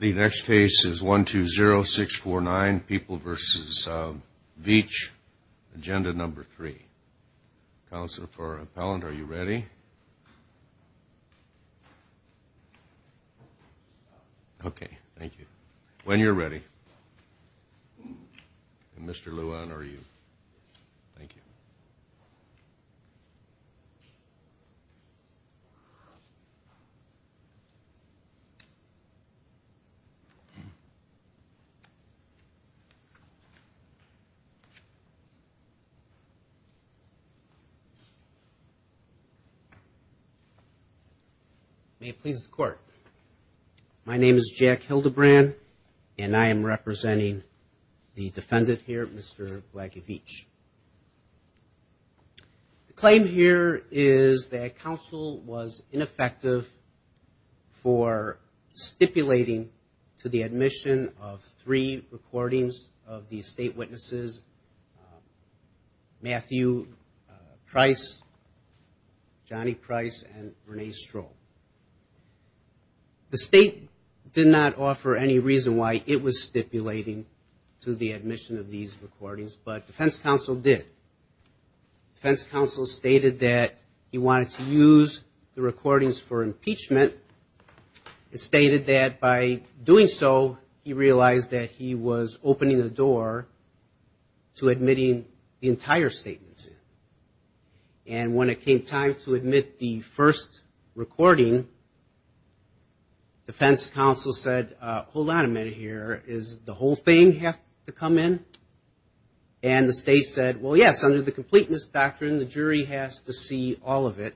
The next case is 120649, People v. Veach, Agenda No. 3. Counsel for appellant, are you ready? Okay, thank you. When you're ready. Mr. Luan, are you? Thank you. May it please the court. My name is Jack Hildebrand, and I am representing the defendant here, Mr. Blagy Veach. The claim here is that counsel was ineffective for stipulating to the admission of three recordings of the estate witnesses, Matthew Price, Johnny Price, and Renee Stroh. The state did not offer any reason why it was stipulating to the admission of these recordings, but defense counsel did. Defense counsel stated that he wanted to use the recordings for impeachment and stated that by doing so, he realized that he was opening the door to impeachment. And when it came time to admit the first recording, defense counsel said, hold on a minute here, does the whole thing have to come in? And the state said, well, yes, under the completeness doctrine, the jury has to see all of it.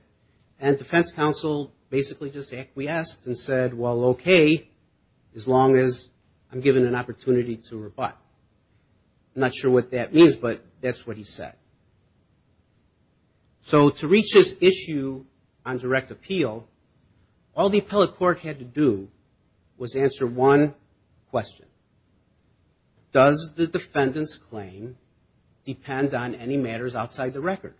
And defense counsel basically just acquiesced and said, well, okay, as long as I'm given an opportunity to rebut. I'm not sure what that means, but that's what he said. So to reach this issue on direct appeal, all the appellate court had to do was answer one question. Does the defendant's claim depend on any matters outside the record?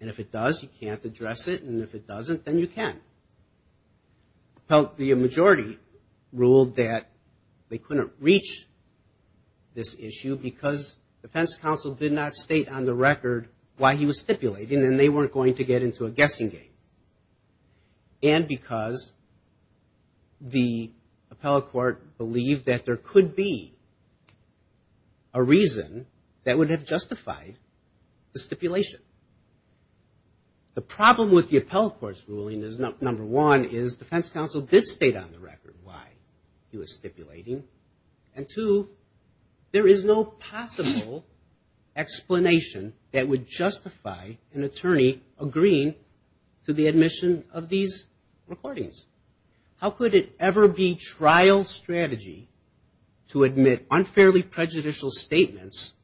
And if it does, you can't address it, and if it doesn't, then you can. The majority ruled that they couldn't reach this issue because defense counsel did not state on the record why he was stipulating, and they weren't going to get into a guessing game. And because the appellate court believed that there could be a reason that would have justified the stipulation. And the problem with the appellate court's ruling is, number one, is defense counsel did state on the record why he was stipulating. And two, there is no possible explanation that would justify an attorney agreeing to the admission of these recordings. How could it ever be trial strategy to admit unfairly prejudicial statements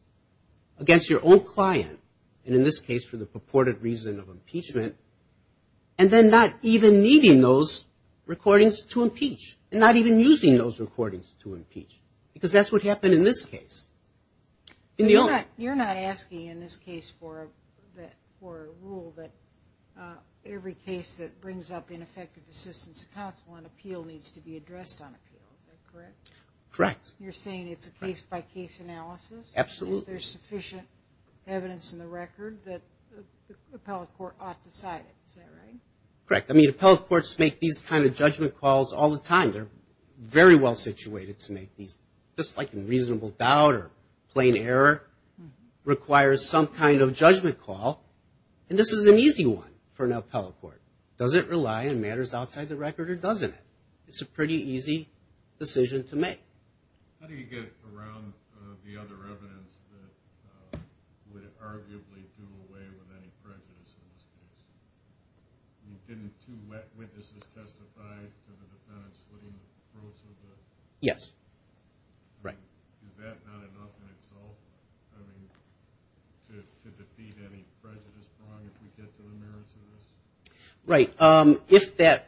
against your own client, and in this case for the purported reason of impeachment, and then not even needing those recordings to impeach, and not even using those recordings to impeach? Because that's what happened in this case. You're not asking in this case for a rule that every case that brings up ineffective assistance to counsel on appeal needs to be addressed on appeal, is that correct? Correct. You're saying it's a case-by-case analysis? Absolutely. If there's sufficient evidence in the record that the appellate court ought to cite it, is that right? Correct. I mean, appellate courts make these kind of judgment calls all the time. They're very well situated to make these, just like in reasonable doubt or plain error, requires some kind of judgment call. And this is an easy one for an appellate court. Does it rely on matters outside the record or doesn't it? It's a pretty easy decision to make. How do you get around the other evidence that would arguably do away with any prejudice in this case? Didn't two witnesses testify to the defendant slitting the throats of the? Yes, right. Is that not enough in itself to defeat any prejudice if we get to the merits of this? Right.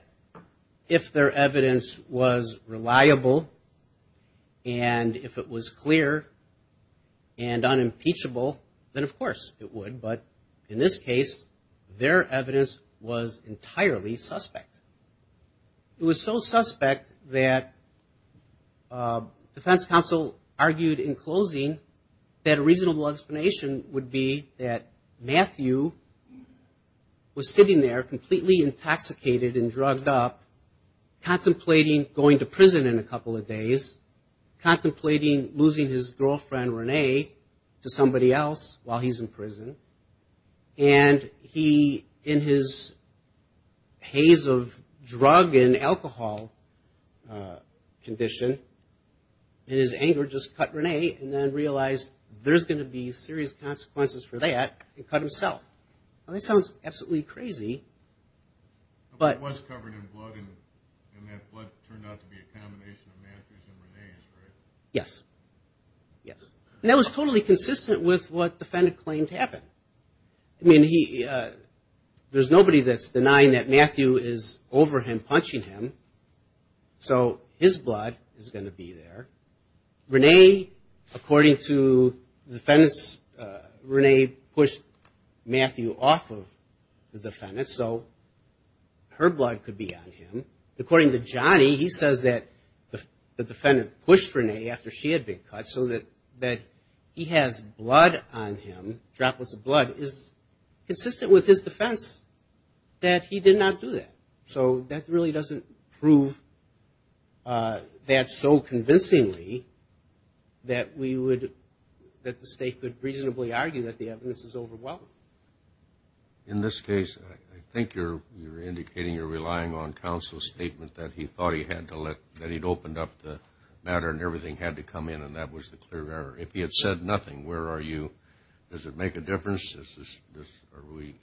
If their evidence was reliable and if it was clear and unimpeachable, then, of course, it would. But in this case, their evidence was entirely suspect. It was so suspect that defense counsel argued in closing that a reasonable explanation would be that Matthew was sitting there completely intoxicated and drugged up, contemplating going to prison in a couple of days, contemplating losing his girlfriend, Renee, to somebody else while he's in this sort of drug and alcohol condition. And his anger just cut Renee and then realized there's going to be serious consequences for that and cut himself. That sounds absolutely crazy. But it was covered in blood and that blood turned out to be a combination of Matthew's and Renee's, right? Yes. Yes. And that was totally consistent with what the defendant claimed to happen. I mean, there's nobody that's denying that Matthew is over him, punching him, so his blood is going to be there. Renee, according to the defendants, Renee pushed Matthew off of the defendants, so her blood could be on him. According to Johnny, he says that the defendant pushed Renee after she had been cut so that he has blood on him, droplets of blood, is consistent with his defense that he did not do that. So that really doesn't prove that so convincingly that we would, that the state could reasonably argue that the evidence is overwhelming. In this case, I think you're indicating you're relying on counsel's statement that he thought he had to let, that he'd opened up the matter and everything had to come in and that was the clear error. If he had said nothing, where are you? Does it make a difference?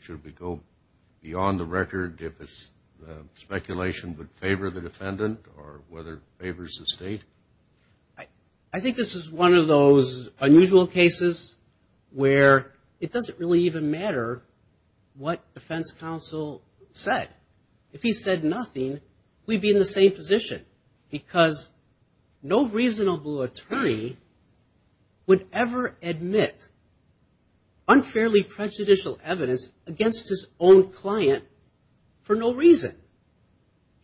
Should we go beyond the record if it's speculation would favor the defendant or whether it favors the state? I think this is one of those unusual cases where it doesn't really even matter what defense counsel said. If he said nothing, we'd be in the same position because no reasonable attorney would ever admit unfairly prejudicial evidence against his own client for no reason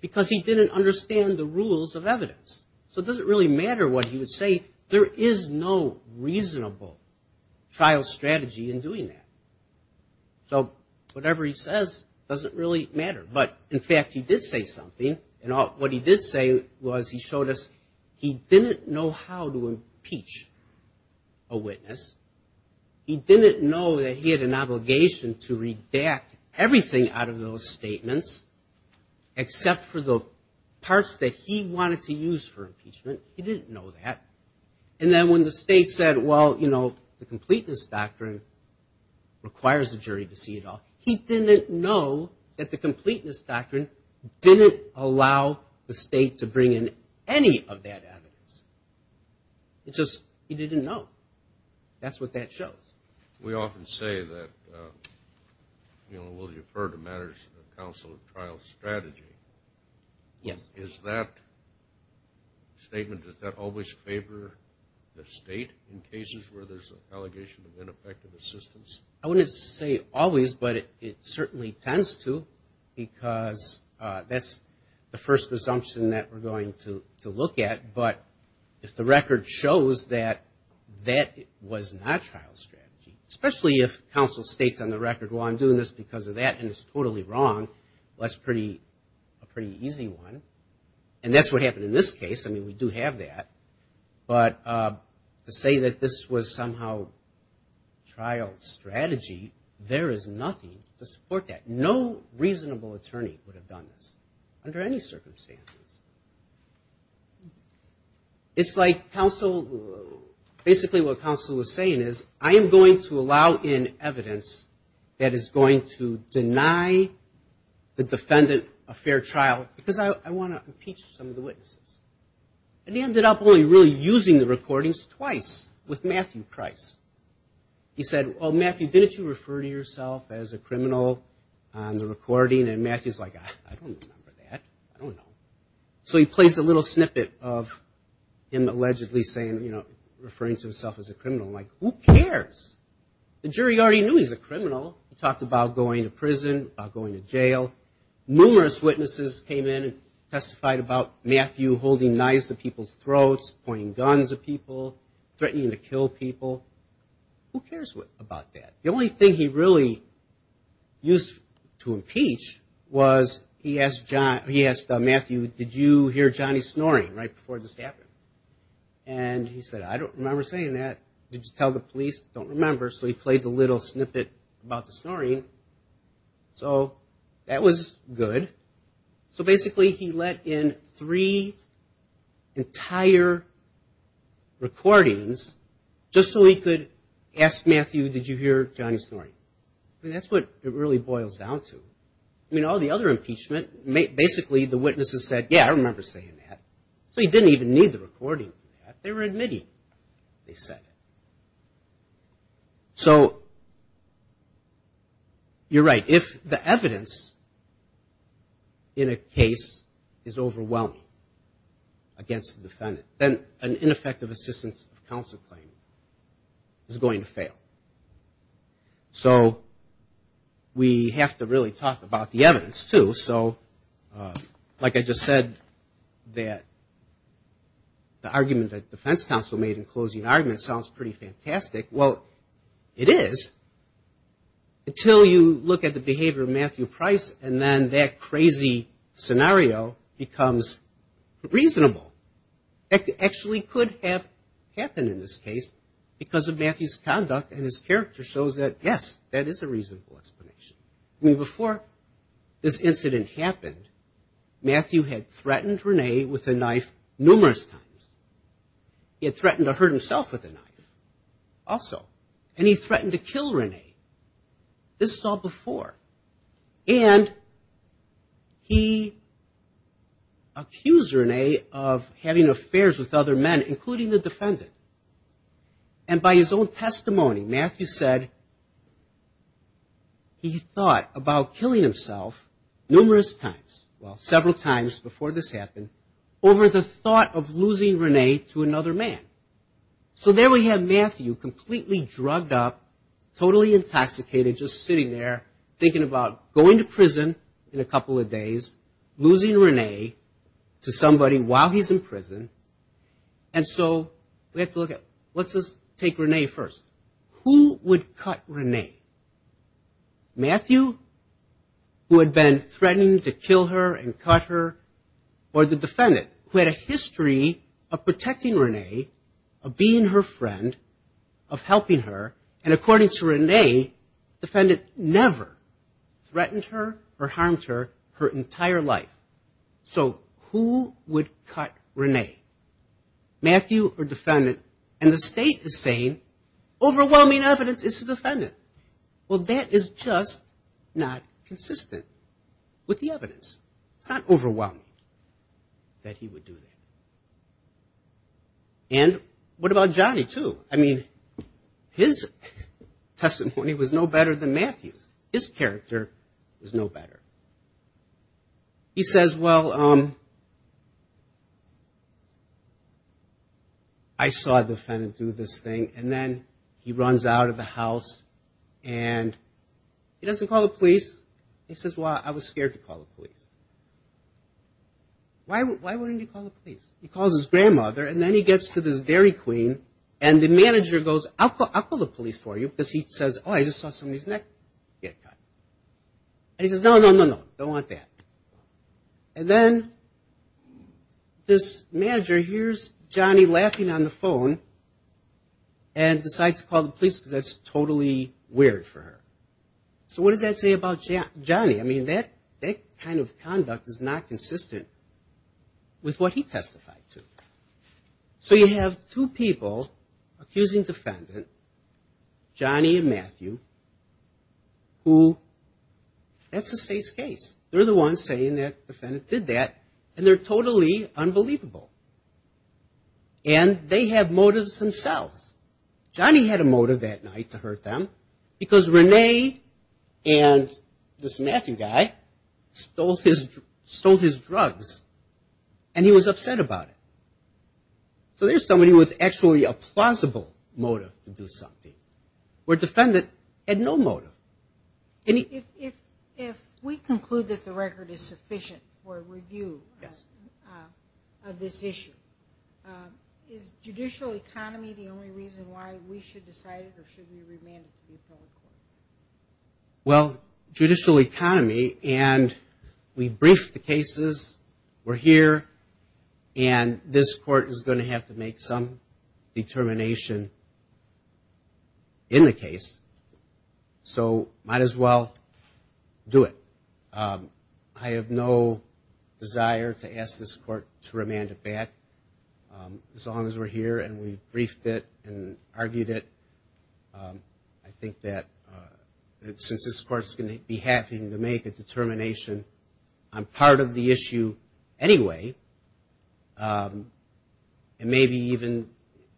because he didn't understand the rules of evidence. So it doesn't really matter what he would say. There is no reasonable trial strategy in doing that. So whatever he says doesn't really matter. But, in fact, he did say something. And what he did say was he showed us he didn't know how to impeach a witness. He didn't know that he had an obligation to redact everything out of those statements except for the parts that he wanted to use for impeachment. He didn't know that. And then when the state said, well, you know, the completeness doctrine requires the jury to see it all, he didn't know that the completeness doctrine didn't allow the state to bring in any of that evidence. It's just he didn't know. That's what that shows. We often say that, you know, we'll defer to matters of counsel and trial strategy. Yes. Is that statement, does that always favor the state in cases where there's an allegation of ineffective assistance? I wouldn't say always, but it certainly tends to because that's the first assumption that we're going to look at. But if the record shows that that was not trial strategy, especially if counsel states on the record, well, I'm doing this because of that and it's totally wrong, well, that's a pretty easy one. And that's what happened in this case. I mean, we do have that. But to say that this was somehow trial strategy, there is nothing to support that. No reasonable attorney would have done this under any circumstances. It's like counsel, basically what counsel is saying is, I am going to allow in evidence that is going to deny the defendant a fair trial because I want to impeach some of the witnesses. And he ended up only really using the recordings twice with Matthew Price. He said, well, Matthew, didn't you refer to yourself as a criminal on the recording? And Matthew's like, I don't remember that. I don't know. So he plays a little snippet of him allegedly saying, you know, referring to himself as a criminal. I'm like, who cares? The jury already knew he's a criminal. He talked about going to prison, about going to jail. Numerous witnesses came in and testified about Matthew holding knives to people's throats, pointing guns at people, threatening to kill people. Who cares about that? The only thing he really used to impeach was he asked Matthew, did you hear Johnny snoring right before this happened? And he said, I don't remember saying that. Did you tell the police? Don't remember. So he played the little snippet about the snoring. So that was good. So basically he let in three entire recordings just so he could ask Matthew, did you hear Johnny snoring? I mean, that's what it really boils down to. I mean, all the other impeachment, basically the witnesses said, yeah, I remember saying that. So he didn't even need the recording for that. They were admitting they said it. So you're right. If the evidence in a case is overwhelming against the defendant, then an ineffective assistance of counsel claim is going to fail. So we have to really talk about the evidence, too. So, like I just said, that the argument that the defense counsel made in closing argument sounds pretty fantastic. Well, it is until you look at the behavior of Matthew Price, and then that crazy scenario becomes reasonable. It actually could have happened in this case because of Matthew's conduct and his character shows that, yes, that is a reasonable explanation. I mean, before this incident happened, Matthew had threatened Renee with a knife numerous times. He had threatened to hurt himself with a knife also. And he threatened to kill Renee. This is all before. And he accused Renee of having affairs with other men, including the defendant. And by his own testimony, Matthew said he thought about killing himself numerous times, well, several times before this happened, over the thought of losing Renee to another man. So there we have Matthew completely drugged up, totally intoxicated, just sitting there thinking about going to prison in a couple of days, losing Renee to somebody while he's in prison. And so we have to look at, let's just take Renee first. Who would cut Renee? Matthew, who had been threatening to kill her and cut her, or the defendant, who had a history of protecting Renee, of being her friend, of helping her. And according to Renee, the defendant never threatened her or harmed her her entire life. So who would cut Renee? Matthew or defendant? And the state is saying overwhelming evidence, it's the defendant. Well, that is just not consistent with the evidence. It's not overwhelming that he would do that. And what about Johnny, too? I mean, his testimony was no better than Matthew's. His character was no better. He says, well, I saw the defendant do this thing, and then he runs out of the house, and he doesn't call the police. He says, well, I was scared to call the police. Why wouldn't he call the police? He calls his grandmother, and then he gets to this Dairy Queen, and the manager goes, I'll call the police for you, because he says, oh, I just saw somebody's neck get cut. And he says, no, no, no, no, don't want that. And then this manager hears Johnny laughing on the phone and decides to call the police, because that's totally weird for her. So what does that say about Johnny? I mean, that kind of conduct is not consistent with what he testified to. So you have two people accusing defendant, Johnny and Matthew, who that's the state's case. They're the ones saying that defendant did that, and they're totally unbelievable. And they have motives themselves. Johnny had a motive that night to hurt them, because Renee and this Matthew guy stole his drugs, and he was upset about it. So there's somebody with actually a plausible motive to do something, where defendant had no motive. If we conclude that the record is sufficient for review of this issue, is judicial economy the only reason why we should decide it or should we remand it to the appellate court? Well, judicial economy, and we briefed the cases. We're here, and this court is going to have to make some determination in the case. So might as well do it. I have no desire to ask this court to remand it back, as long as we're here, and we briefed it and argued it. I think that since this court's going to be having to make a determination on part of the issue anyway, and maybe even,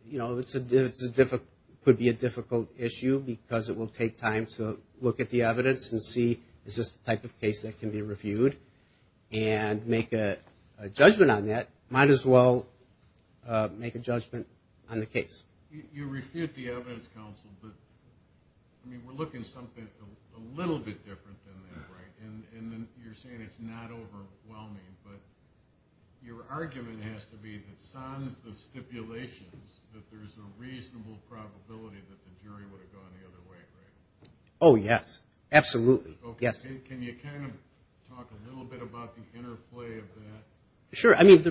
you know, it could be a difficult issue, because it will take time to look at the evidence and see, is this the type of case that can be reviewed, and make a judgment on that, might as well make a judgment on the case. You refute the evidence, counsel, but, I mean, we're looking at something a little bit different than that, right? And you're saying it's not overwhelming, but your argument has to be that sans the stipulations, that there's a reasonable probability that the jury would have gone the other way, right? Oh, yes. Absolutely. Yes. Okay. Can you kind of talk a little bit about the interplay of that? Sure. I mean,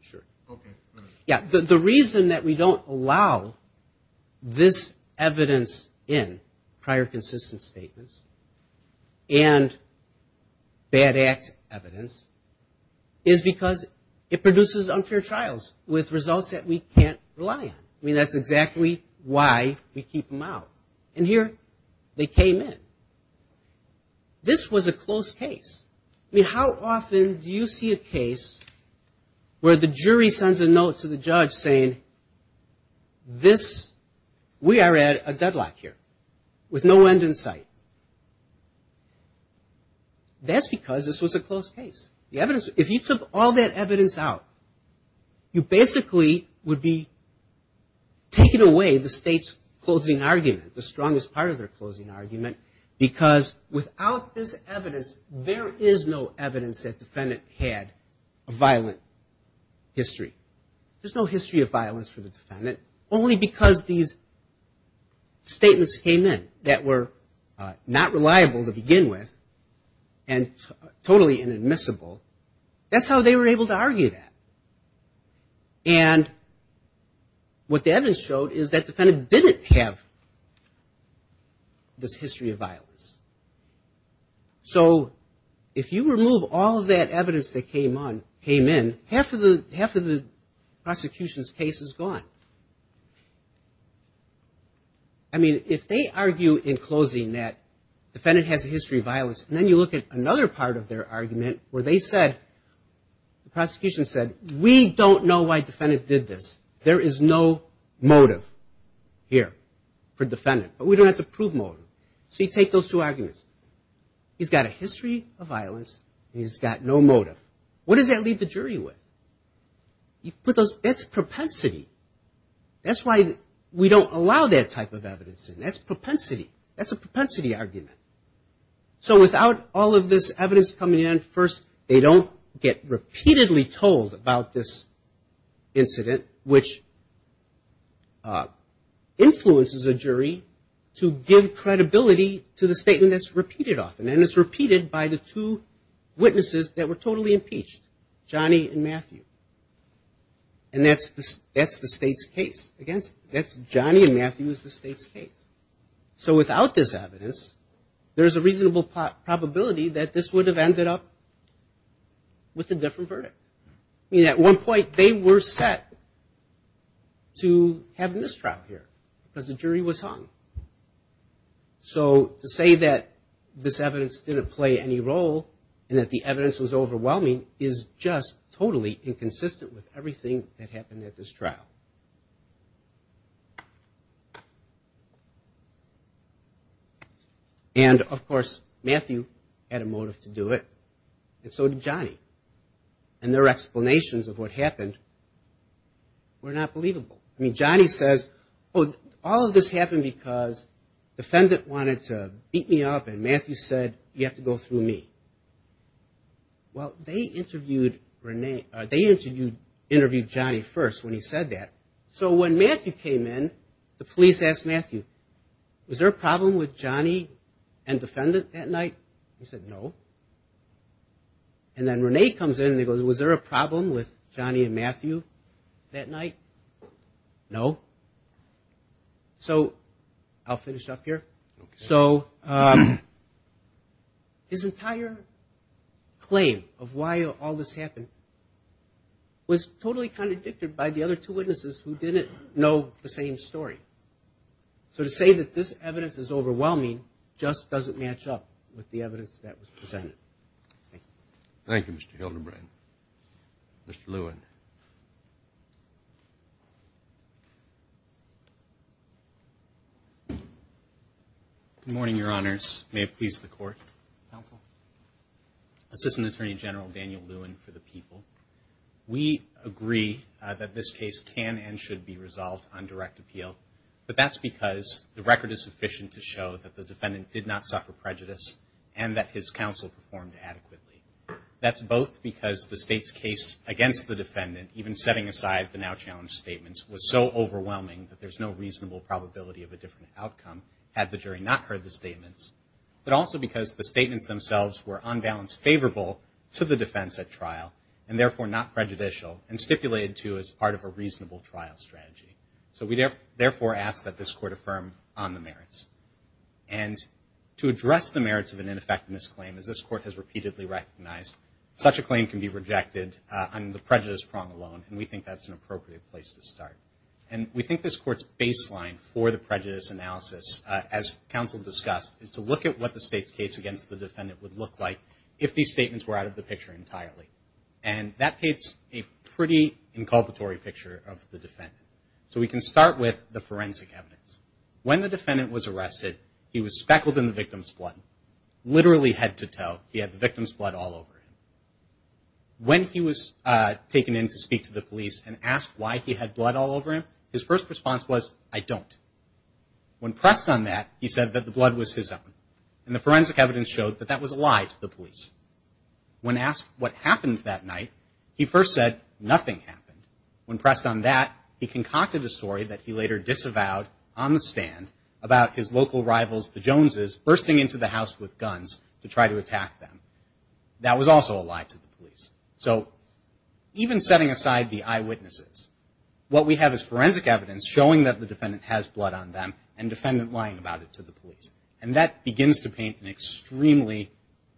sure. Okay. Go ahead. Yeah. The reason that we don't allow this evidence in, prior consistent statements, and bad-ass evidence, is because it produces unfair trials with results that we can't rely on. I mean, that's exactly why we keep them out. And here they came in. This was a close case. I mean, how often do you see a case where the jury sends a note to the judge saying, we are at a deadlock here, with no end in sight? That's because this was a close case. If you took all that evidence out, you basically would be taking away the state's closing argument, the strongest part of their closing argument, because without this evidence, there is no evidence that defendant had a violent history. There's no history of violence for the defendant, only because these statements came in that were not reliable to begin with, and totally inadmissible. That's how they were able to argue that. And what the evidence showed is that defendant didn't have this history of violence. So if you remove all of that evidence that came in, half of the prosecution's case is gone. I mean, if they argue in closing that defendant has a history of violence, and then you look at another part of their argument, where they said, the prosecution said, we don't know why defendant did this. There is no motive here for defendant. But we don't have to prove motive. So you take those two arguments. He's got a history of violence. He's got no motive. What does that leave the jury with? That's propensity. That's why we don't allow that type of evidence in. That's propensity. That's a propensity argument. So without all of this evidence coming in, first, they don't get repeatedly told about this incident, which influences a jury to give credibility to the statement that's repeated often. And it's repeated by the two witnesses that were totally impeached, Johnny and Matthew. And that's the state's case. Johnny and Matthew is the state's case. So without this evidence, there's a reasonable probability that this would have ended up with a different verdict. I mean, at one point, they were set to have a mistrial here because the jury was hung. So to say that this evidence didn't play any role and that the evidence was overwhelming is just totally inconsistent with everything that happened at this trial. And, of course, Matthew had a motive to do it, and so did Johnny. And their explanations of what happened were not believable. I mean, Johnny says, oh, all of this happened because the defendant wanted to beat me up, and Matthew said, you have to go through me. Well, they interviewed Johnny first when he said that. So when Matthew came in, the police asked Matthew, was there a problem with Johnny and the defendant that night? He said, no. And then Renee comes in and goes, was there a problem with Johnny and Matthew that night? No. So I'll finish up here. So his entire claim of why all this happened was totally contradicted by the other two witnesses who didn't know the same story. So to say that this evidence is overwhelming just doesn't match up with the evidence that was presented. Thank you. Thank you, Mr. Hildebrand. Mr. Lewin. Good morning, Your Honors. May it please the Court. Counsel. Assistant Attorney General Daniel Lewin for the people. We agree that this case can and should be resolved on direct appeal, but that's because the record is sufficient to show that the defendant did not suffer prejudice and that his counsel performed adequately. That's both because the State's case against the defendant, even setting aside the now-challenged statements, was so overwhelming that there's no reasonable probability of a different outcome had the jury not heard the statements, but also because the statements themselves were on balance favorable to the defense at trial and therefore not prejudicial and stipulated to as part of a reasonable trial strategy. So we therefore ask that this Court affirm on the merits. And to address the merits of an ineffectiveness claim, as this Court has repeatedly recognized, such a claim can be rejected on the prejudice prong alone, and we think that's an appropriate place to start. And we think this Court's baseline for the prejudice analysis, as counsel discussed, is to look at what the State's case against the defendant would look like if these statements were out of the picture entirely. And that paints a pretty inculpatory picture of the defendant. So we can start with the forensic evidence. When the defendant was arrested, he was speckled in the victim's blood, literally head to toe, he had the victim's blood all over him. When he was taken in to speak to the police and asked why he had blood all over him, his first response was, I don't. When pressed on that, he said that the blood was his own. And the forensic evidence showed that that was a lie to the police. When asked what happened that night, he first said, nothing happened. When pressed on that, he concocted a story that he later disavowed on the stand about his local rivals, the Joneses, bursting into the house with guns to try to attack them. That was also a lie to the police. So even setting aside the eyewitnesses, what we have is forensic evidence showing that the defendant has blood on them and defendant lying about it to the police. And that begins to paint an extremely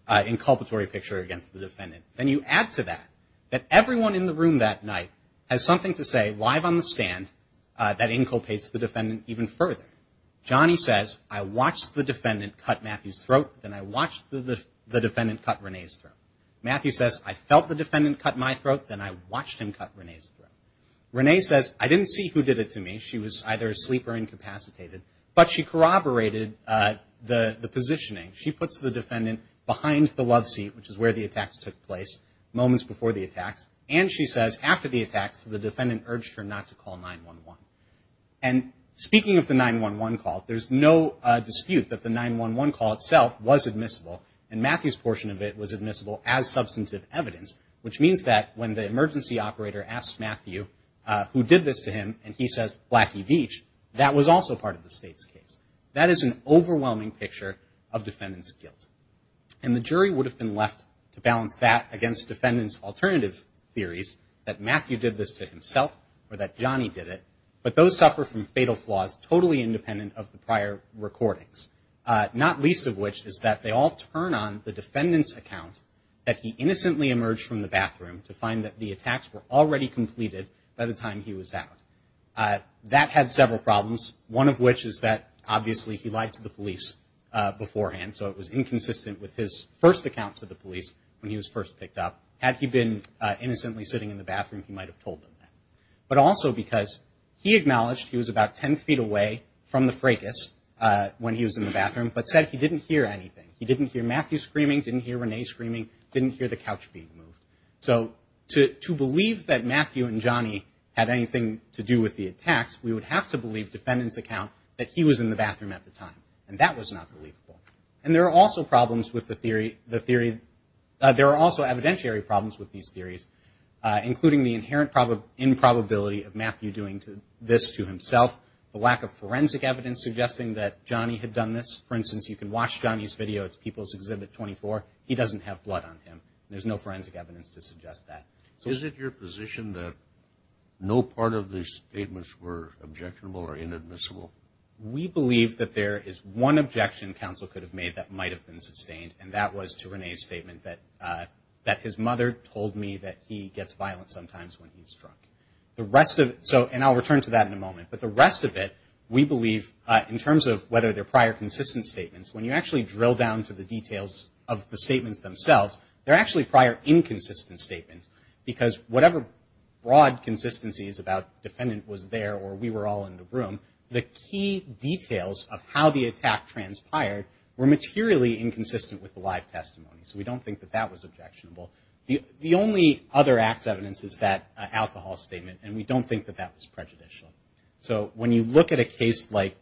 inculpatory picture against the defendant. Then you add to that that everyone in the room that night has something to say on the stand that inculpates the defendant even further. Johnny says, I watched the defendant cut Matthew's throat. Then I watched the defendant cut Renee's throat. Matthew says, I felt the defendant cut my throat. Then I watched him cut Renee's throat. Renee says, I didn't see who did it to me. She was either asleep or incapacitated. But she corroborated the positioning. She puts the defendant behind the love seat, which is where the attacks took place moments before the attacks. And she says, after the attacks, the defendant urged her not to call 911. And speaking of the 911 call, there's no dispute that the 911 call itself was admissible. And Matthew's portion of it was admissible as substantive evidence, which means that when the emergency operator asked Matthew, who did this to him, and he says, Blackie Veatch, that was also part of the state's case. That is an overwhelming picture of defendant's guilt. And the jury would have been left to balance that against defendant's alternative theories that Matthew did this to himself or that Johnny did it. But those suffer from fatal flaws totally independent of the prior recordings, not least of which is that they all turn on the defendant's account that he innocently emerged from the bathroom to find that the attacks were already completed by the time he was out. That had several problems, one of which is that, obviously, he lied to the police beforehand, so it was inconsistent with his first account to the police when he was first picked up. Had he been innocently sitting in the bathroom, he might have told them that. But also because he acknowledged he was about ten feet away from the fracas when he was in the bathroom, but said he didn't hear anything. He didn't hear Matthew screaming, didn't hear Renee screaming, didn't hear the couch being moved. So to believe that Matthew and Johnny had anything to do with the attacks, we would have to believe defendant's account that he was in the bathroom at the time, and that was not believable. And there are also problems with the theory. There are also evidentiary problems with these theories, including the inherent improbability of Matthew doing this to himself, the lack of forensic evidence suggesting that Johnny had done this. For instance, you can watch Johnny's video. It's People's Exhibit 24. He doesn't have blood on him. There's no forensic evidence to suggest that. Is it your position that no part of these statements were objectionable or inadmissible? We believe that there is one objection counsel could have made that might have been sustained, and that was to Renee's statement that his mother told me that he gets violent sometimes when he's drunk. And I'll return to that in a moment. But the rest of it, we believe, in terms of whether they're prior consistent statements, when you actually drill down to the details of the statements themselves, they're actually prior inconsistent statements, because whatever broad consistencies about defendant was there or we were all in the room, the key details of how the attack transpired were materially inconsistent with the live testimony. So we don't think that that was objectionable. The only other acts evidence is that alcohol statement, and we don't think that that was prejudicial. So when you look at a case like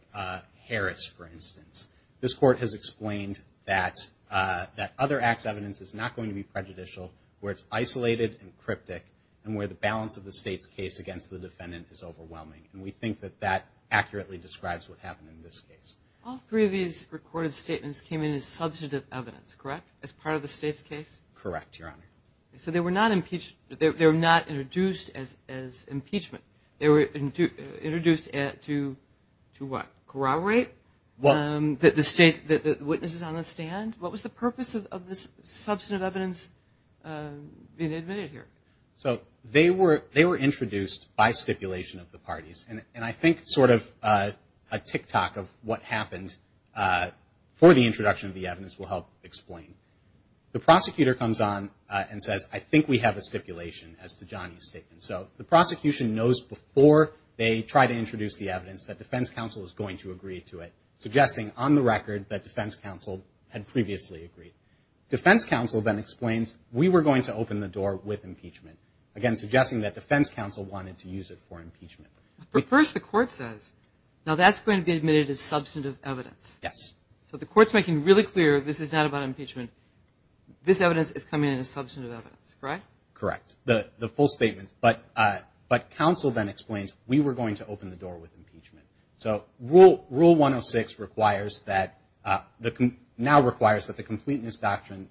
Harris, for instance, this court has explained that other acts evidence is not going to be prejudicial, where it's isolated and cryptic, and where the balance of the state's case against the defendant is overwhelming. And we think that that accurately describes what happened in this case. All three of these recorded statements came in as substantive evidence, correct, as part of the state's case? Correct, Your Honor. So they were not introduced as impeachment. They were introduced to what? Corroborate the witnesses on the stand? What was the purpose of this substantive evidence being admitted here? So they were introduced by stipulation of the parties. And I think sort of a tick-tock of what happened for the introduction of the evidence will help explain. The prosecutor comes on and says, I think we have a stipulation as to Johnny's statement. So the prosecution knows before they try to introduce the evidence that defense counsel is going to agree to it, suggesting on the record that defense counsel had previously agreed. Defense counsel then explains, we were going to open the door with impeachment, again suggesting that defense counsel wanted to use it for impeachment. But first the court says, now that's going to be admitted as substantive evidence. Yes. So the court's making really clear this is not about impeachment. This evidence is coming in as substantive evidence, correct? Correct, the full statement. But counsel then explains, we were going to open the door with impeachment. So Rule 106 now requires that the completeness doctrine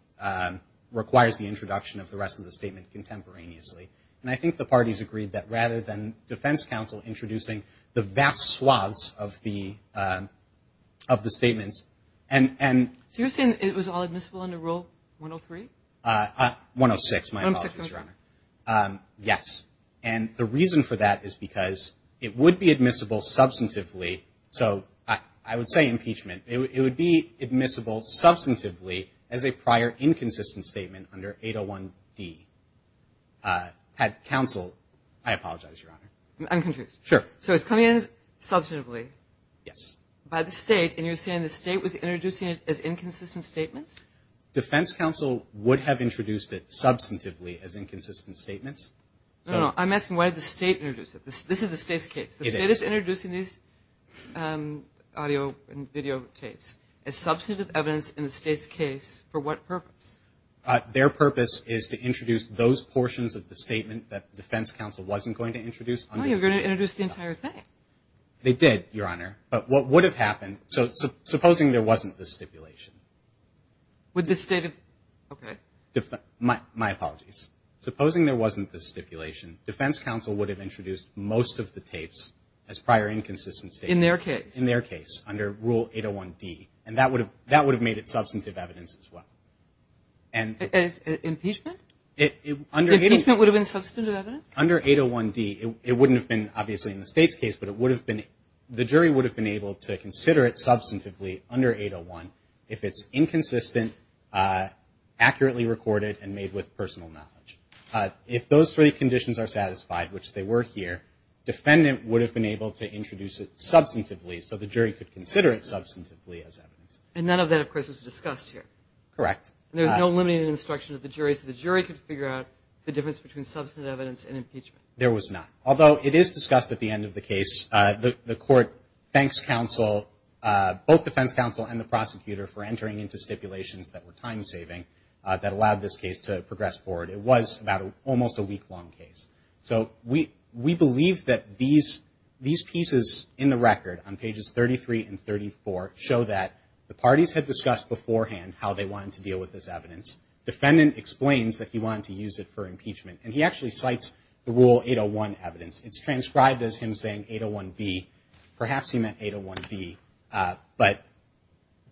requires the introduction of the rest of the statement contemporaneously. And I think the parties agreed that rather than defense counsel introducing the vast swaths of the statements. So you're saying it was all admissible under Rule 103? 106, my apologies, Your Honor. 106, okay. So I would say impeachment. It would be admissible substantively as a prior inconsistent statement under 801D. Had counsel, I apologize, Your Honor. I'm confused. Sure. So it's coming in substantively. Yes. By the State, and you're saying the State was introducing it as inconsistent statements? Defense counsel would have introduced it substantively as inconsistent statements. No, no, I'm asking why the State introduced it. This is the State's case. It is. The State is introducing these audio and video tapes as substantive evidence in the State's case for what purpose? Their purpose is to introduce those portions of the statement that defense counsel wasn't going to introduce. Oh, you're going to introduce the entire thing. They did, Your Honor. But what would have happened, so supposing there wasn't this stipulation. Would the State have, okay. My apologies. Supposing there wasn't this stipulation, defense counsel would have introduced most of the tapes as prior inconsistent statements. In their case. In their case, under Rule 801D, and that would have made it substantive evidence as well. Impeachment? Impeachment would have been substantive evidence? Under 801D, it wouldn't have been, obviously, in the State's case, but it would have been, the jury would have been able to consider it substantively under 801 if it's inconsistent, accurately recorded, and made with personal knowledge. If those three conditions are satisfied, which they were here, defendant would have been able to introduce it substantively, so the jury could consider it substantively as evidence. And none of that, of course, was discussed here. Correct. There's no limited instruction of the jury, so the jury could figure out the difference between substantive evidence and impeachment. There was not. Although it is discussed at the end of the case. The court thanks counsel, both defense counsel and the prosecutor, for entering into stipulations that were time-saving that allowed this case to progress forward. It was about almost a week-long case. So we believe that these pieces in the record on pages 33 and 34 show that the parties had discussed beforehand how they wanted to deal with this evidence. Defendant explains that he wanted to use it for impeachment, and he actually cites the Rule 801 evidence. It's transcribed as him saying 801B. Perhaps he meant 801D. But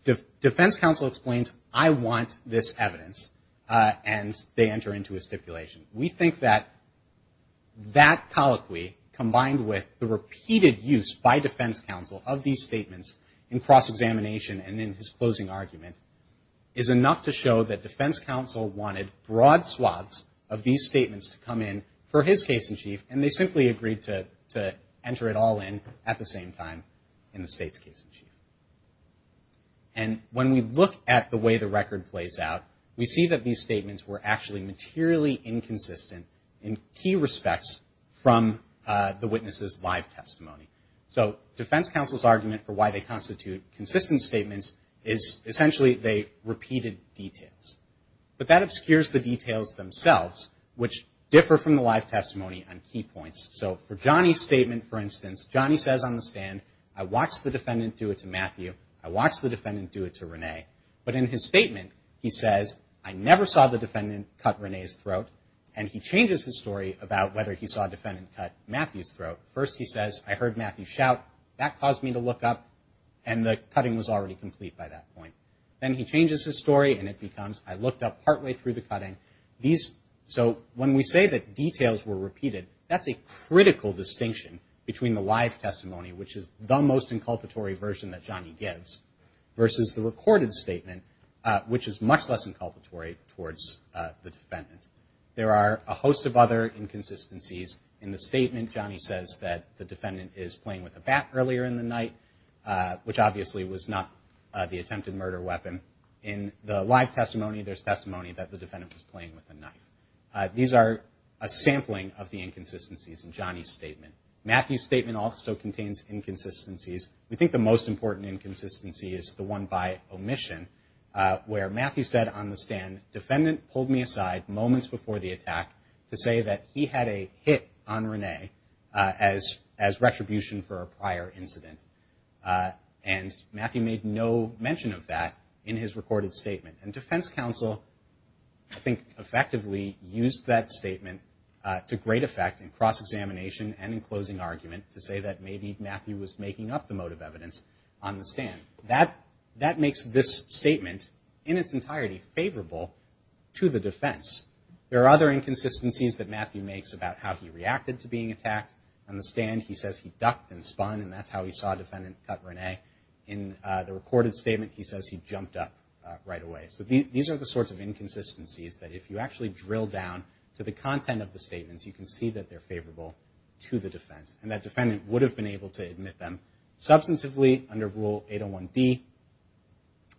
defense counsel explains, I want this evidence, and they enter into a stipulation. We think that that colloquy, combined with the repeated use by defense counsel of these statements in cross-examination and in his closing argument, is enough to show that defense counsel wanted broad swaths of these statements to come in for his case in chief, and they simply agreed to enter it all in at the same time in the state's case in chief. And when we look at the way the record plays out, we see that these statements were actually materially inconsistent in key respects from the witness's live testimony. So defense counsel's argument for why they constitute consistent statements is essentially they repeated details. But that obscures the details themselves, which differ from the live testimony on key points. So for Johnny's statement, for instance, Johnny says on the stand, I watched the defendant do it to Matthew. I watched the defendant do it to Renee. But in his statement, he says, I never saw the defendant cut Renee's throat. And he changes his story about whether he saw a defendant cut Matthew's throat. First he says, I heard Matthew shout. That caused me to look up, and the cutting was already complete by that point. Then he changes his story, and it becomes, I looked up partway through the cutting. So when we say that details were repeated, that's a critical distinction between the live testimony, which is the most inculpatory version that Johnny gives, versus the recorded statement, which is much less inculpatory towards the defendant. There are a host of other inconsistencies in the statement. Johnny says that the defendant is playing with a bat earlier in the night, which obviously was not the attempted murder weapon. In the live testimony, there's testimony that the defendant was playing with a knife. These are a sampling of the inconsistencies in Johnny's statement. Matthew's statement also contains inconsistencies. We think the most important inconsistency is the one by omission, where Matthew said on the stand, defendant pulled me aside moments before the attack to say that he had a hit on Renee as retribution for a prior incident. And Matthew made no mention of that in his recorded statement. And defense counsel, I think, effectively used that statement to great effect in cross-examination and in closing argument to say that maybe Matthew was making up the motive evidence on the stand. That makes this statement, in its entirety, favorable to the defense. There are other inconsistencies that Matthew makes about how he reacted to being attacked. On the stand, he says he ducked and spun, and that's how he saw defendant cut Renee. In the recorded statement, he says he jumped up right away. So these are the sorts of inconsistencies that if you actually drill down to the content of the statements, you can see that they're favorable to the defense, and that defendant would have been able to admit them substantively under Rule 801D,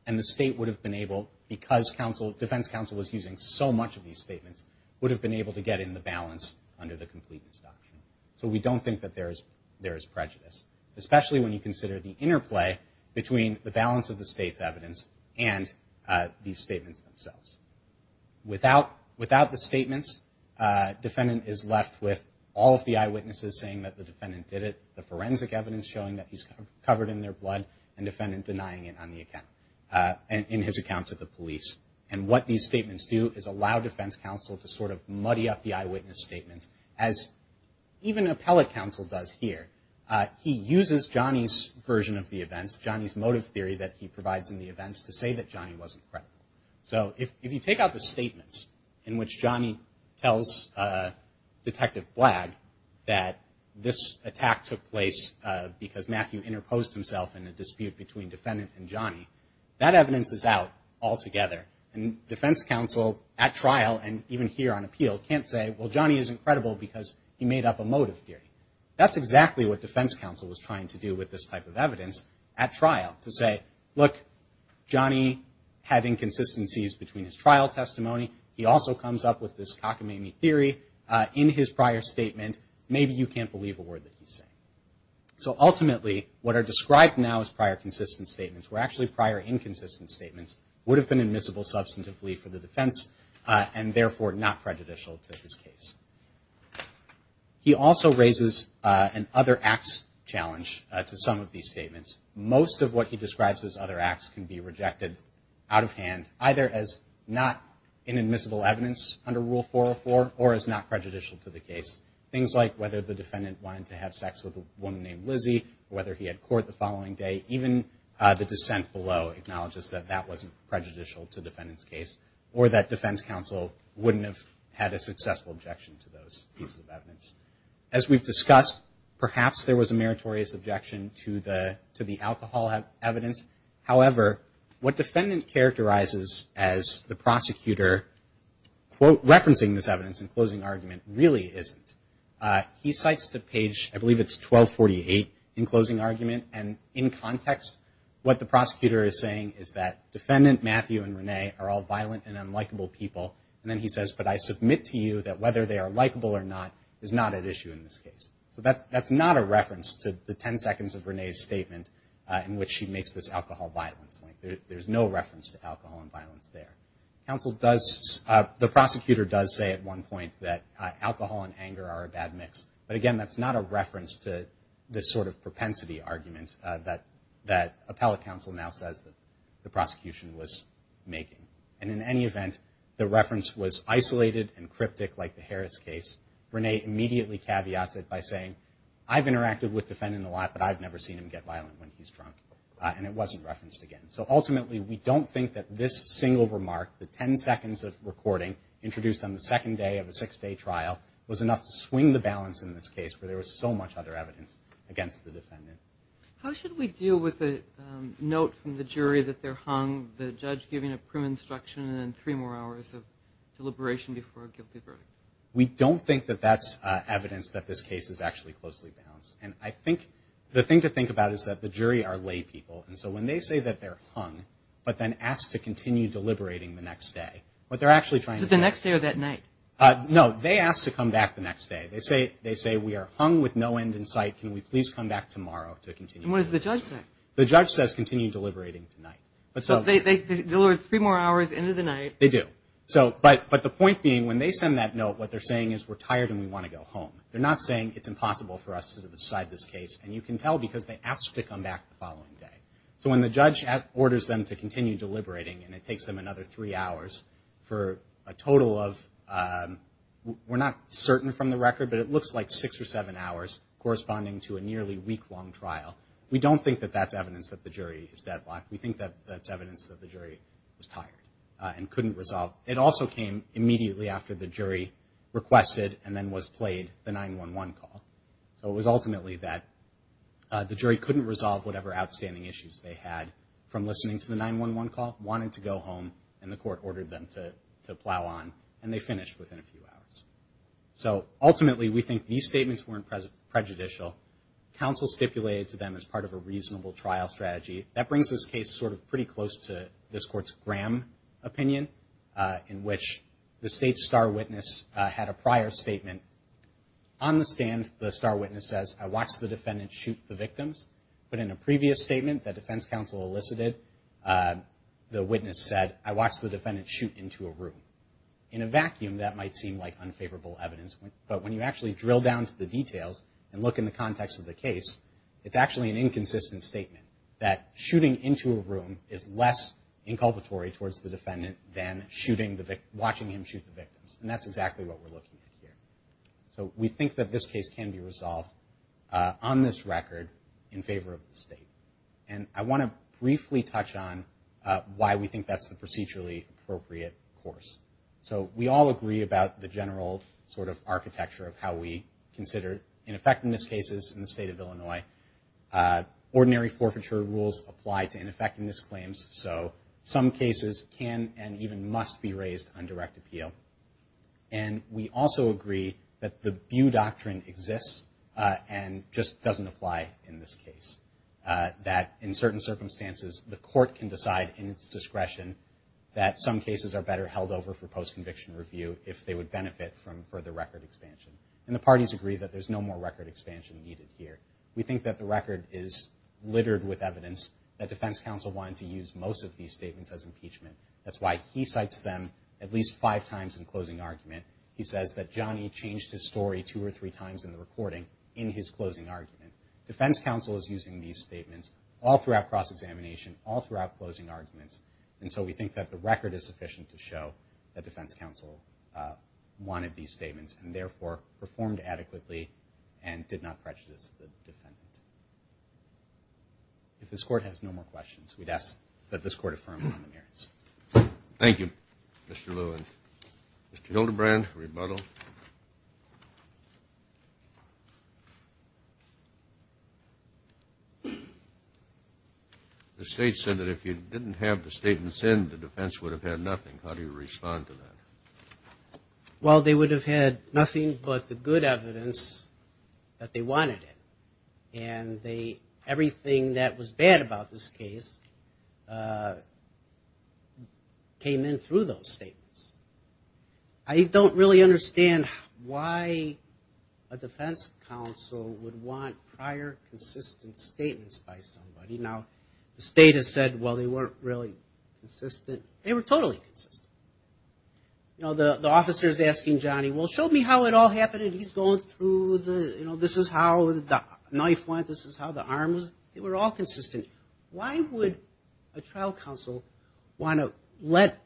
and the state would have been able, because defense counsel was using so much of these statements, would have been able to get in the balance under the Completeness Doctrine. So we don't think that there is prejudice, especially when you consider the interplay between the balance of the state's evidence and these statements themselves. Without the statements, defendant is left with all of the eyewitnesses saying that the defendant did it, the forensic evidence showing that he's covered in their blood, and defendant denying it on the account, in his account to the police. And what these statements do is allow defense counsel to sort of muddy up the eyewitness statements, as even appellate counsel does here. He uses Johnny's version of the events, Johnny's motive theory that he provides in the events, to say that Johnny wasn't credible. So if you take out the statements in which Johnny tells Detective Blag that this attack took place because Matthew interposed himself in a dispute between defendant and Johnny, that evidence is out altogether, and defense counsel at trial and even here on appeal can't say, well, Johnny isn't credible because he made up a motive theory. That's exactly what defense counsel was trying to do with this type of evidence at trial, to say, look, Johnny had inconsistencies between his trial testimony. He also comes up with this cockamamie theory in his prior statement. Maybe you can't believe a word that he's saying. So ultimately, what are described now as prior consistent statements, were actually prior inconsistent statements, would have been admissible substantively for the defense and therefore not prejudicial to his case. He also raises an other acts challenge to some of these statements. Most of what he describes as other acts can be rejected out of hand, either as not inadmissible evidence under Rule 404 or as not prejudicial to the case. Things like whether the defendant wanted to have sex with a woman named Lizzie, whether he had court the following day, even the dissent below acknowledges that that wasn't prejudicial to the defendant's case or that defense counsel wouldn't have had a successful objection to those pieces of evidence. As we've discussed, perhaps there was a meritorious objection to the alcohol evidence. However, what defendant characterizes as the prosecutor, quote, referencing this evidence in closing argument, really isn't. He cites the page, I believe it's 1248, in closing argument, and in context what the prosecutor is saying is that defendant Matthew and Renee are all violent and unlikable people, and then he says, but I submit to you that whether they are likable or not is not at issue in this case. So that's not a reference to the ten seconds of Renee's statement in which she makes this alcohol violence link. There's no reference to alcohol and violence there. The prosecutor does say at one point that alcohol and anger are a bad mix, but again that's not a reference to this sort of propensity argument that appellate counsel now says that the prosecution was making. And in any event, the reference was isolated and cryptic like the Harris case. Renee immediately caveats it by saying, I've interacted with defendant a lot, but I've never seen him get violent when he's drunk, and it wasn't referenced again. So ultimately we don't think that this single remark, the ten seconds of recording, introduced on the second day of a six-day trial, was enough to swing the balance in this case where there was so much other evidence against the defendant. How should we deal with a note from the jury that they're hung, the judge giving a prim instruction, and then three more hours of deliberation before a guilty verdict? We don't think that that's evidence that this case is actually closely balanced. And I think the thing to think about is that the jury are lay people, and so when they say that they're hung but then asked to continue deliberating the next day, what they're actually trying to say – Is it the next day or that night? No, they ask to come back the next day. They say we are hung with no end in sight. Can we please come back tomorrow to continue deliberating? And what does the judge say? The judge says continue deliberating tonight. But they deliver three more hours into the night. They do. But the point being, when they send that note, what they're saying is we're tired and we want to go home. They're not saying it's impossible for us to decide this case, and you can tell because they ask to come back the following day. So when the judge orders them to continue deliberating, and it takes them another three hours for a total of – we're not certain from the record, but it looks like six or seven hours corresponding to a nearly week-long trial. We don't think that that's evidence that the jury is deadlocked. We think that that's evidence that the jury was tired and couldn't resolve. It also came immediately after the jury requested and then was played the 911 call. So it was ultimately that the jury couldn't resolve whatever outstanding issues they had from listening to the 911 call, wanted to go home, and the court ordered them to plow on, and they finished within a few hours. So ultimately, we think these statements weren't prejudicial. Counsel stipulated to them as part of a reasonable trial strategy. That brings this case sort of pretty close to this court's Graham opinion, in which the state's star witness had a prior statement. On the stand, the star witness says, I watched the defendant shoot the victims. But in a previous statement that defense counsel elicited, the witness said, I watched the defendant shoot into a room. In a vacuum, that might seem like unfavorable evidence. But when you actually drill down to the details and look in the context of the case, it's actually an inconsistent statement that shooting into a room is less inculpatory towards the defendant than watching him shoot the victims. And that's exactly what we're looking at here. So we think that this case can be resolved on this record in favor of the state. And I want to briefly touch on why we think that's the procedurally appropriate course. So we all agree about the general sort of architecture of how we consider ineffectiveness cases in the state of Illinois. Ordinary forfeiture rules apply to ineffectiveness claims. So some cases can and even must be raised on direct appeal. And we also agree that the Bew Doctrine exists and just doesn't apply in this case. That in certain circumstances, the court can decide in its discretion that some cases are better held over for post-conviction review if they would benefit from further record expansion. And the parties agree that there's no more record expansion needed here. We think that the record is littered with evidence that defense counsel wanted to use most of these statements as impeachment. That's why he cites them at least five times in closing argument. He says that Johnny changed his story two or three times in the recording in his closing argument. Defense counsel is using these statements all throughout cross-examination, all throughout closing arguments. And so we think that the record is sufficient to show that defense counsel wanted these statements and therefore performed adequately and did not prejudice the defendant. If this court has no more questions, we'd ask that this court affirm on the merits. Thank you, Mr. Lewin. Mr. Hildebrand, rebuttal. The state said that if you didn't have the statements in, the defense would have had nothing. How do you respond to that? Well, they would have had nothing but the good evidence that they wanted it. And everything that was bad about this case came in through those statements. I don't really understand why a defense counsel would want prior consistent statements by somebody. Now, the state has said, well, they weren't really consistent. They were totally consistent. You know, the officer is asking Johnny, well, show me how it all happened and he's going through the, you know, this is how the knife went, this is how the arm was, they were all consistent. Why would a trial counsel want to let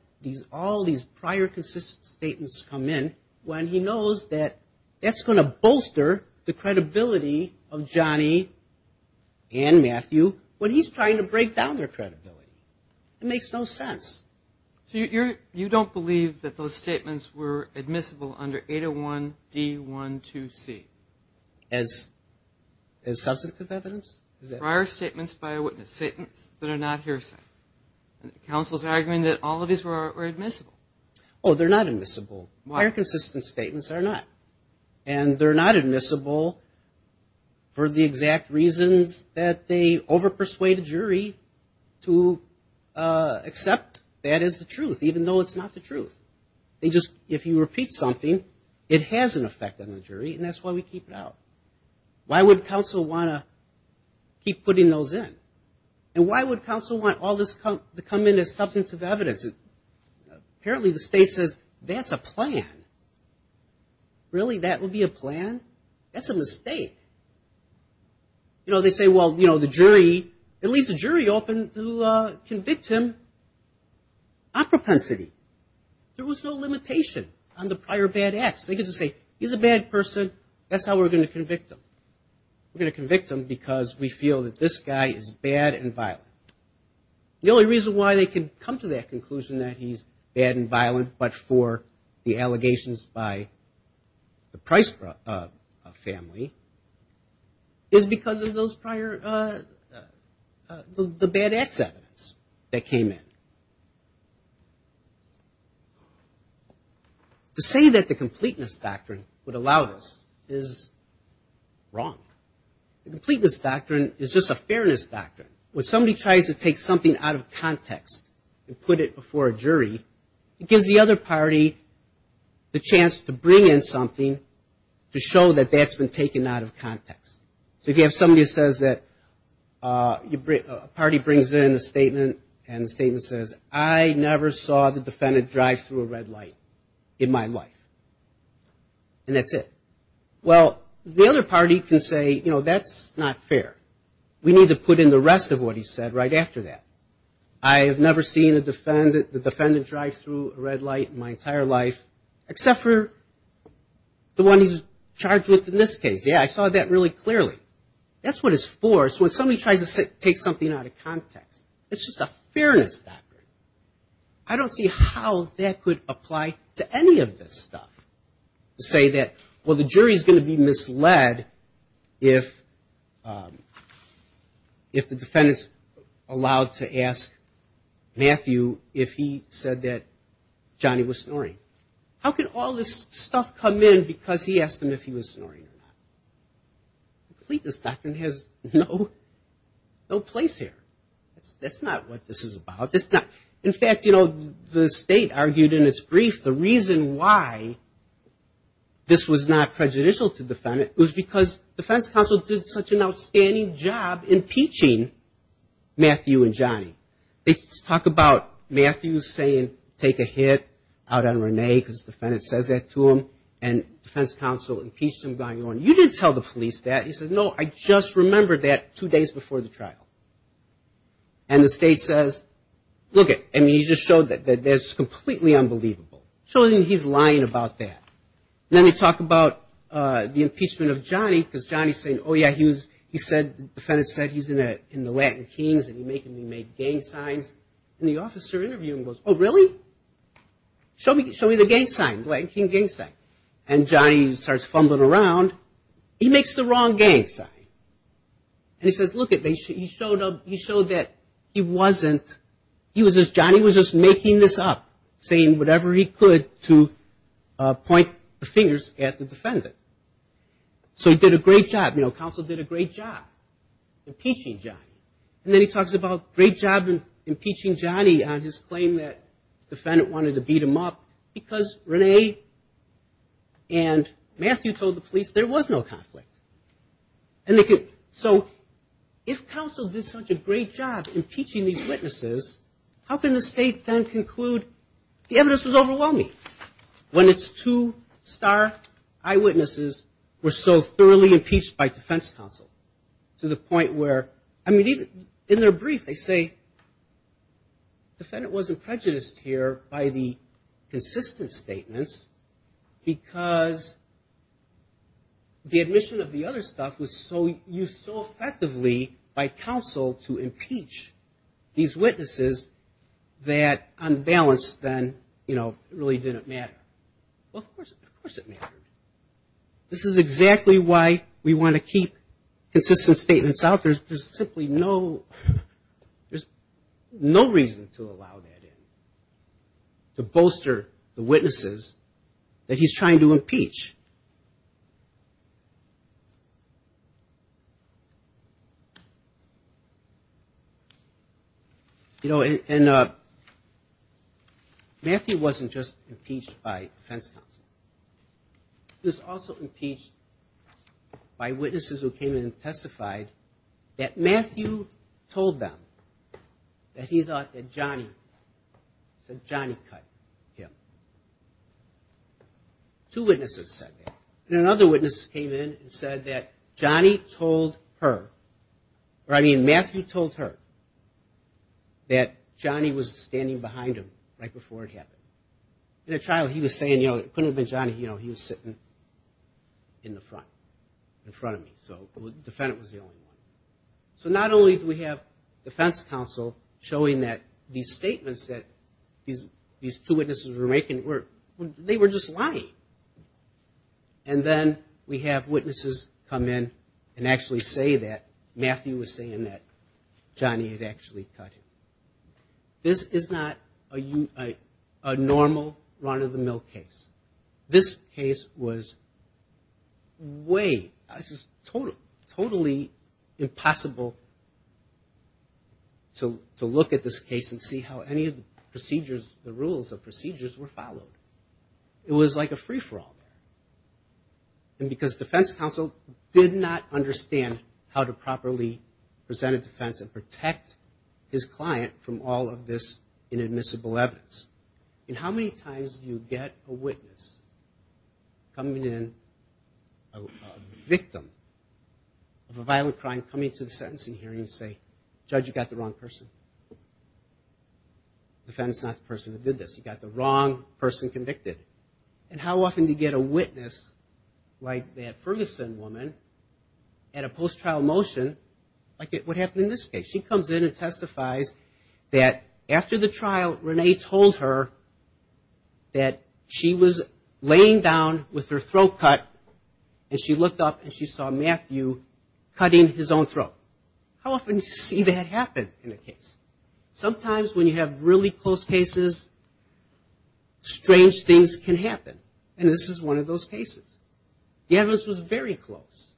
all these prior consistent statements come in when he knows that that's going to bolster the credibility of Johnny and Matthew when he's trying to break down their credibility? It makes no sense. So you don't believe that those statements were admissible under 801D12C? As substantive evidence? Prior statements by a witness, statements that are not hearsay. Counsel's arguing that all of these were admissible. Oh, they're not admissible. Prior consistent statements are not. And they're not admissible for the exact reasons that they overpersuade a jury to accept that as the truth, even though it's not the truth. They just, if you repeat something, it has an effect on the jury and that's why we keep it out. Why would counsel want to keep putting those in? And why would counsel want all this to come in as substantive evidence? Apparently the state says that's a plan. Really, that would be a plan? That's a mistake. You know, they say, well, you know, the jury, at least the jury opened to convict him on propensity. There was no limitation on the prior bad acts. They could just say, he's a bad person, that's how we're going to convict him. We're going to convict him because we feel that this guy is bad and violent. The only reason why they can come to that conclusion that he's bad and violent, but for the allegations by the jury, is because of those prior, the bad acts evidence that came in. To say that the completeness doctrine would allow this is wrong. The completeness doctrine is just a fairness doctrine. When somebody tries to take something out of context and put it before a jury, it gives the other party the chance to take it out of context. So if you have somebody that says that, a party brings in a statement and the statement says, I never saw the defendant drive through a red light in my life. And that's it. Well, the other party can say, you know, that's not fair. We need to put in the rest of what he said right after that. I have never seen the defendant drive through a red light in my entire life, except for the one he's charged with in this case. Yeah, I saw that really clearly. That's what it's for. So when somebody tries to take something out of context, it's just a fairness doctrine. I don't see how that could apply to any of this stuff, to say that, well, the jury is going to be misled if the defendant's allowed to ask Matthew if he said that Johnny was snoring. How could all this stuff come in because he asked him if he was snoring or not? This doctrine has no place here. That's not what this is about. In fact, you know, the state argued in its brief, the reason why this was not prejudicial to the defendant was because defense counsel did such an outstanding job impeaching Matthew and Johnny. They talk about Matthew saying take a hit out on Renee because the defendant says that to him and defense counsel impeached him going on. You didn't tell the police that. He said, no, I just remembered that two days before the trial. And the state says, look it, I mean, he just showed that that's completely unbelievable. Show him he's lying about that. Then they talk about the impeachment of Johnny because Johnny's saying, oh, yeah, he said, the defendant said he's in the Latin Kings and he's making me make gang signs. And the officer interviewing him goes, oh, really? Show me the gang sign, the Latin King gang sign. And Johnny starts fumbling around. He makes the wrong gang sign. And he says, look it, he showed that he wasn't, he was just, Johnny was just making this up, saying whatever he could to point the finger at him. So he did a great job. Counsel did a great job impeaching Johnny. And then he talks about a great job impeaching Johnny on his claim that the defendant wanted to beat him up because Renee and Matthew told the police there was no conflict. So if counsel did such a great job impeaching these witnesses, how can the state then conclude the evidence was overwhelming when it's too obvious? Star, eyewitnesses were so thoroughly impeached by defense counsel to the point where, I mean, in their brief they say the defendant wasn't prejudiced here by the consistent statements because the admission of the other stuff was used so effectively by counsel to impeach these witnesses that unbalanced then really didn't matter. Well, of course it mattered. This is exactly why we want to keep consistent statements out. There's simply no, there's no reason to allow that in, to bolster the witnesses that he's trying to impeach. You know, and Matthew wasn't just impeached by defense counsel. He was also impeached by witnesses who came in and testified that Matthew told them that he thought that Johnny, that Johnny cut him. Two witnesses said that. And another witness came in and said that Johnny told her, or I mean Matthew told her that Johnny was standing behind him right before it happened. In a trial he was saying, you know, it couldn't have been Johnny, you know, he was sitting in the front, in front of me. So the defendant was the only one. So not only do we have defense counsel showing that these statements that these two witnesses were making were, they were just lying. And then we have witnesses come in and actually say that Matthew was saying that Johnny had actually cut him. This is not a normal run of the mill case. This case was way, totally, totally impossible to look at this case and see how any of the procedures, the rules of procedures were followed. It was like a free-for-all. And because defense counsel did not understand how to properly present a defense and protect his client from all of this inadmissible evidence. And how many times do you get a witness coming in, a victim of a violent crime coming to the sentencing hearing to say, judge you got the wrong person? The defendant is not the person that did this. He got the wrong person convicted. And how often do you get a witness like that Ferguson woman at a post-trial motion, like what happened in this case? She comes in and testifies that after the trial, Renee told her that she was laying down with her throat cut and she looked up and she saw Matthew cutting his own throat. How often do you see that happen in a case? Sometimes when you have really close cases, strange things happen in a case. And that's why I think this can happen. And this is one of those cases. The evidence was very close.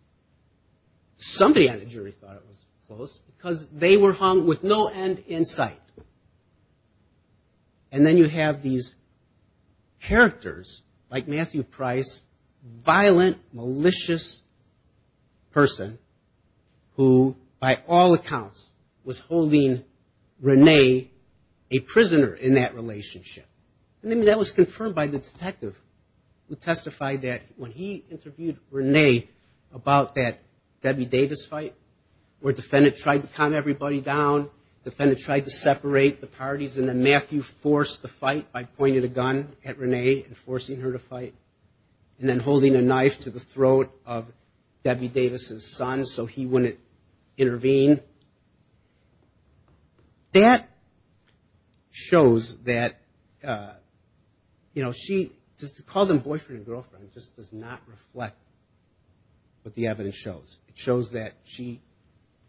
Somebody on the jury thought it was close because they were hung with no end in sight. And then you have these characters like Matthew Price, violent, malicious person who by all accounts was holding Renee a prisoner in that relationship. And that was confirmed by the three witnesses. And that's the detective who testified that when he interviewed Renee about that Debbie Davis fight where the defendant tried to calm everybody down, the defendant tried to separate the parties and then Matthew forced the fight by pointing a gun at Renee and forcing her to fight and then holding a knife to the throat of Debbie Davis' son so he wouldn't intervene. That shows that she was a victim of a violent crime. And that's why I think this can happen. And how often do you get a witness like that Ferguson woman at a post-trial motion? She comes in and testifies that after the trial, Renee told her that she was laying down with her throat cut and she looked up and she saw Matthew cutting his own throat. How often do you see that happen in a case? Sometimes when you have really close cases, strange things happen in a case. And that's why I think this can happen. And that's why I think this can happen. And that's why I think this can happen. And that's why I think this can happen. And that's why I think this can happen. And just to call them boyfriend and girlfriend just does not reflect what the evidence shows. It shows that she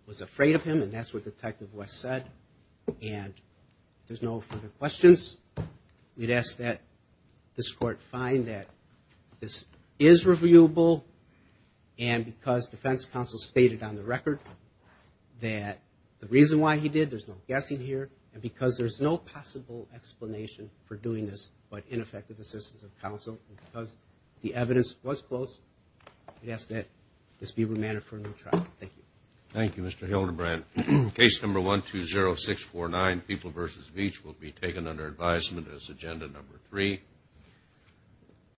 was afraid of him and that's what Detective West said. And if there's no further questions we'd ask that this court find that this is reviewable and because defense counsel stated on the record that the reason why he did, there's no guessing here, and because there's no possible explanation for doing this but ineffective assistance of counsel, because the evidence was close, we'd ask that this be remanded for a new trial. Thank you. Thank you, Mr. Hildebrand. Case number 120649, People v. Veatch, will be taken under advisement as agenda number three.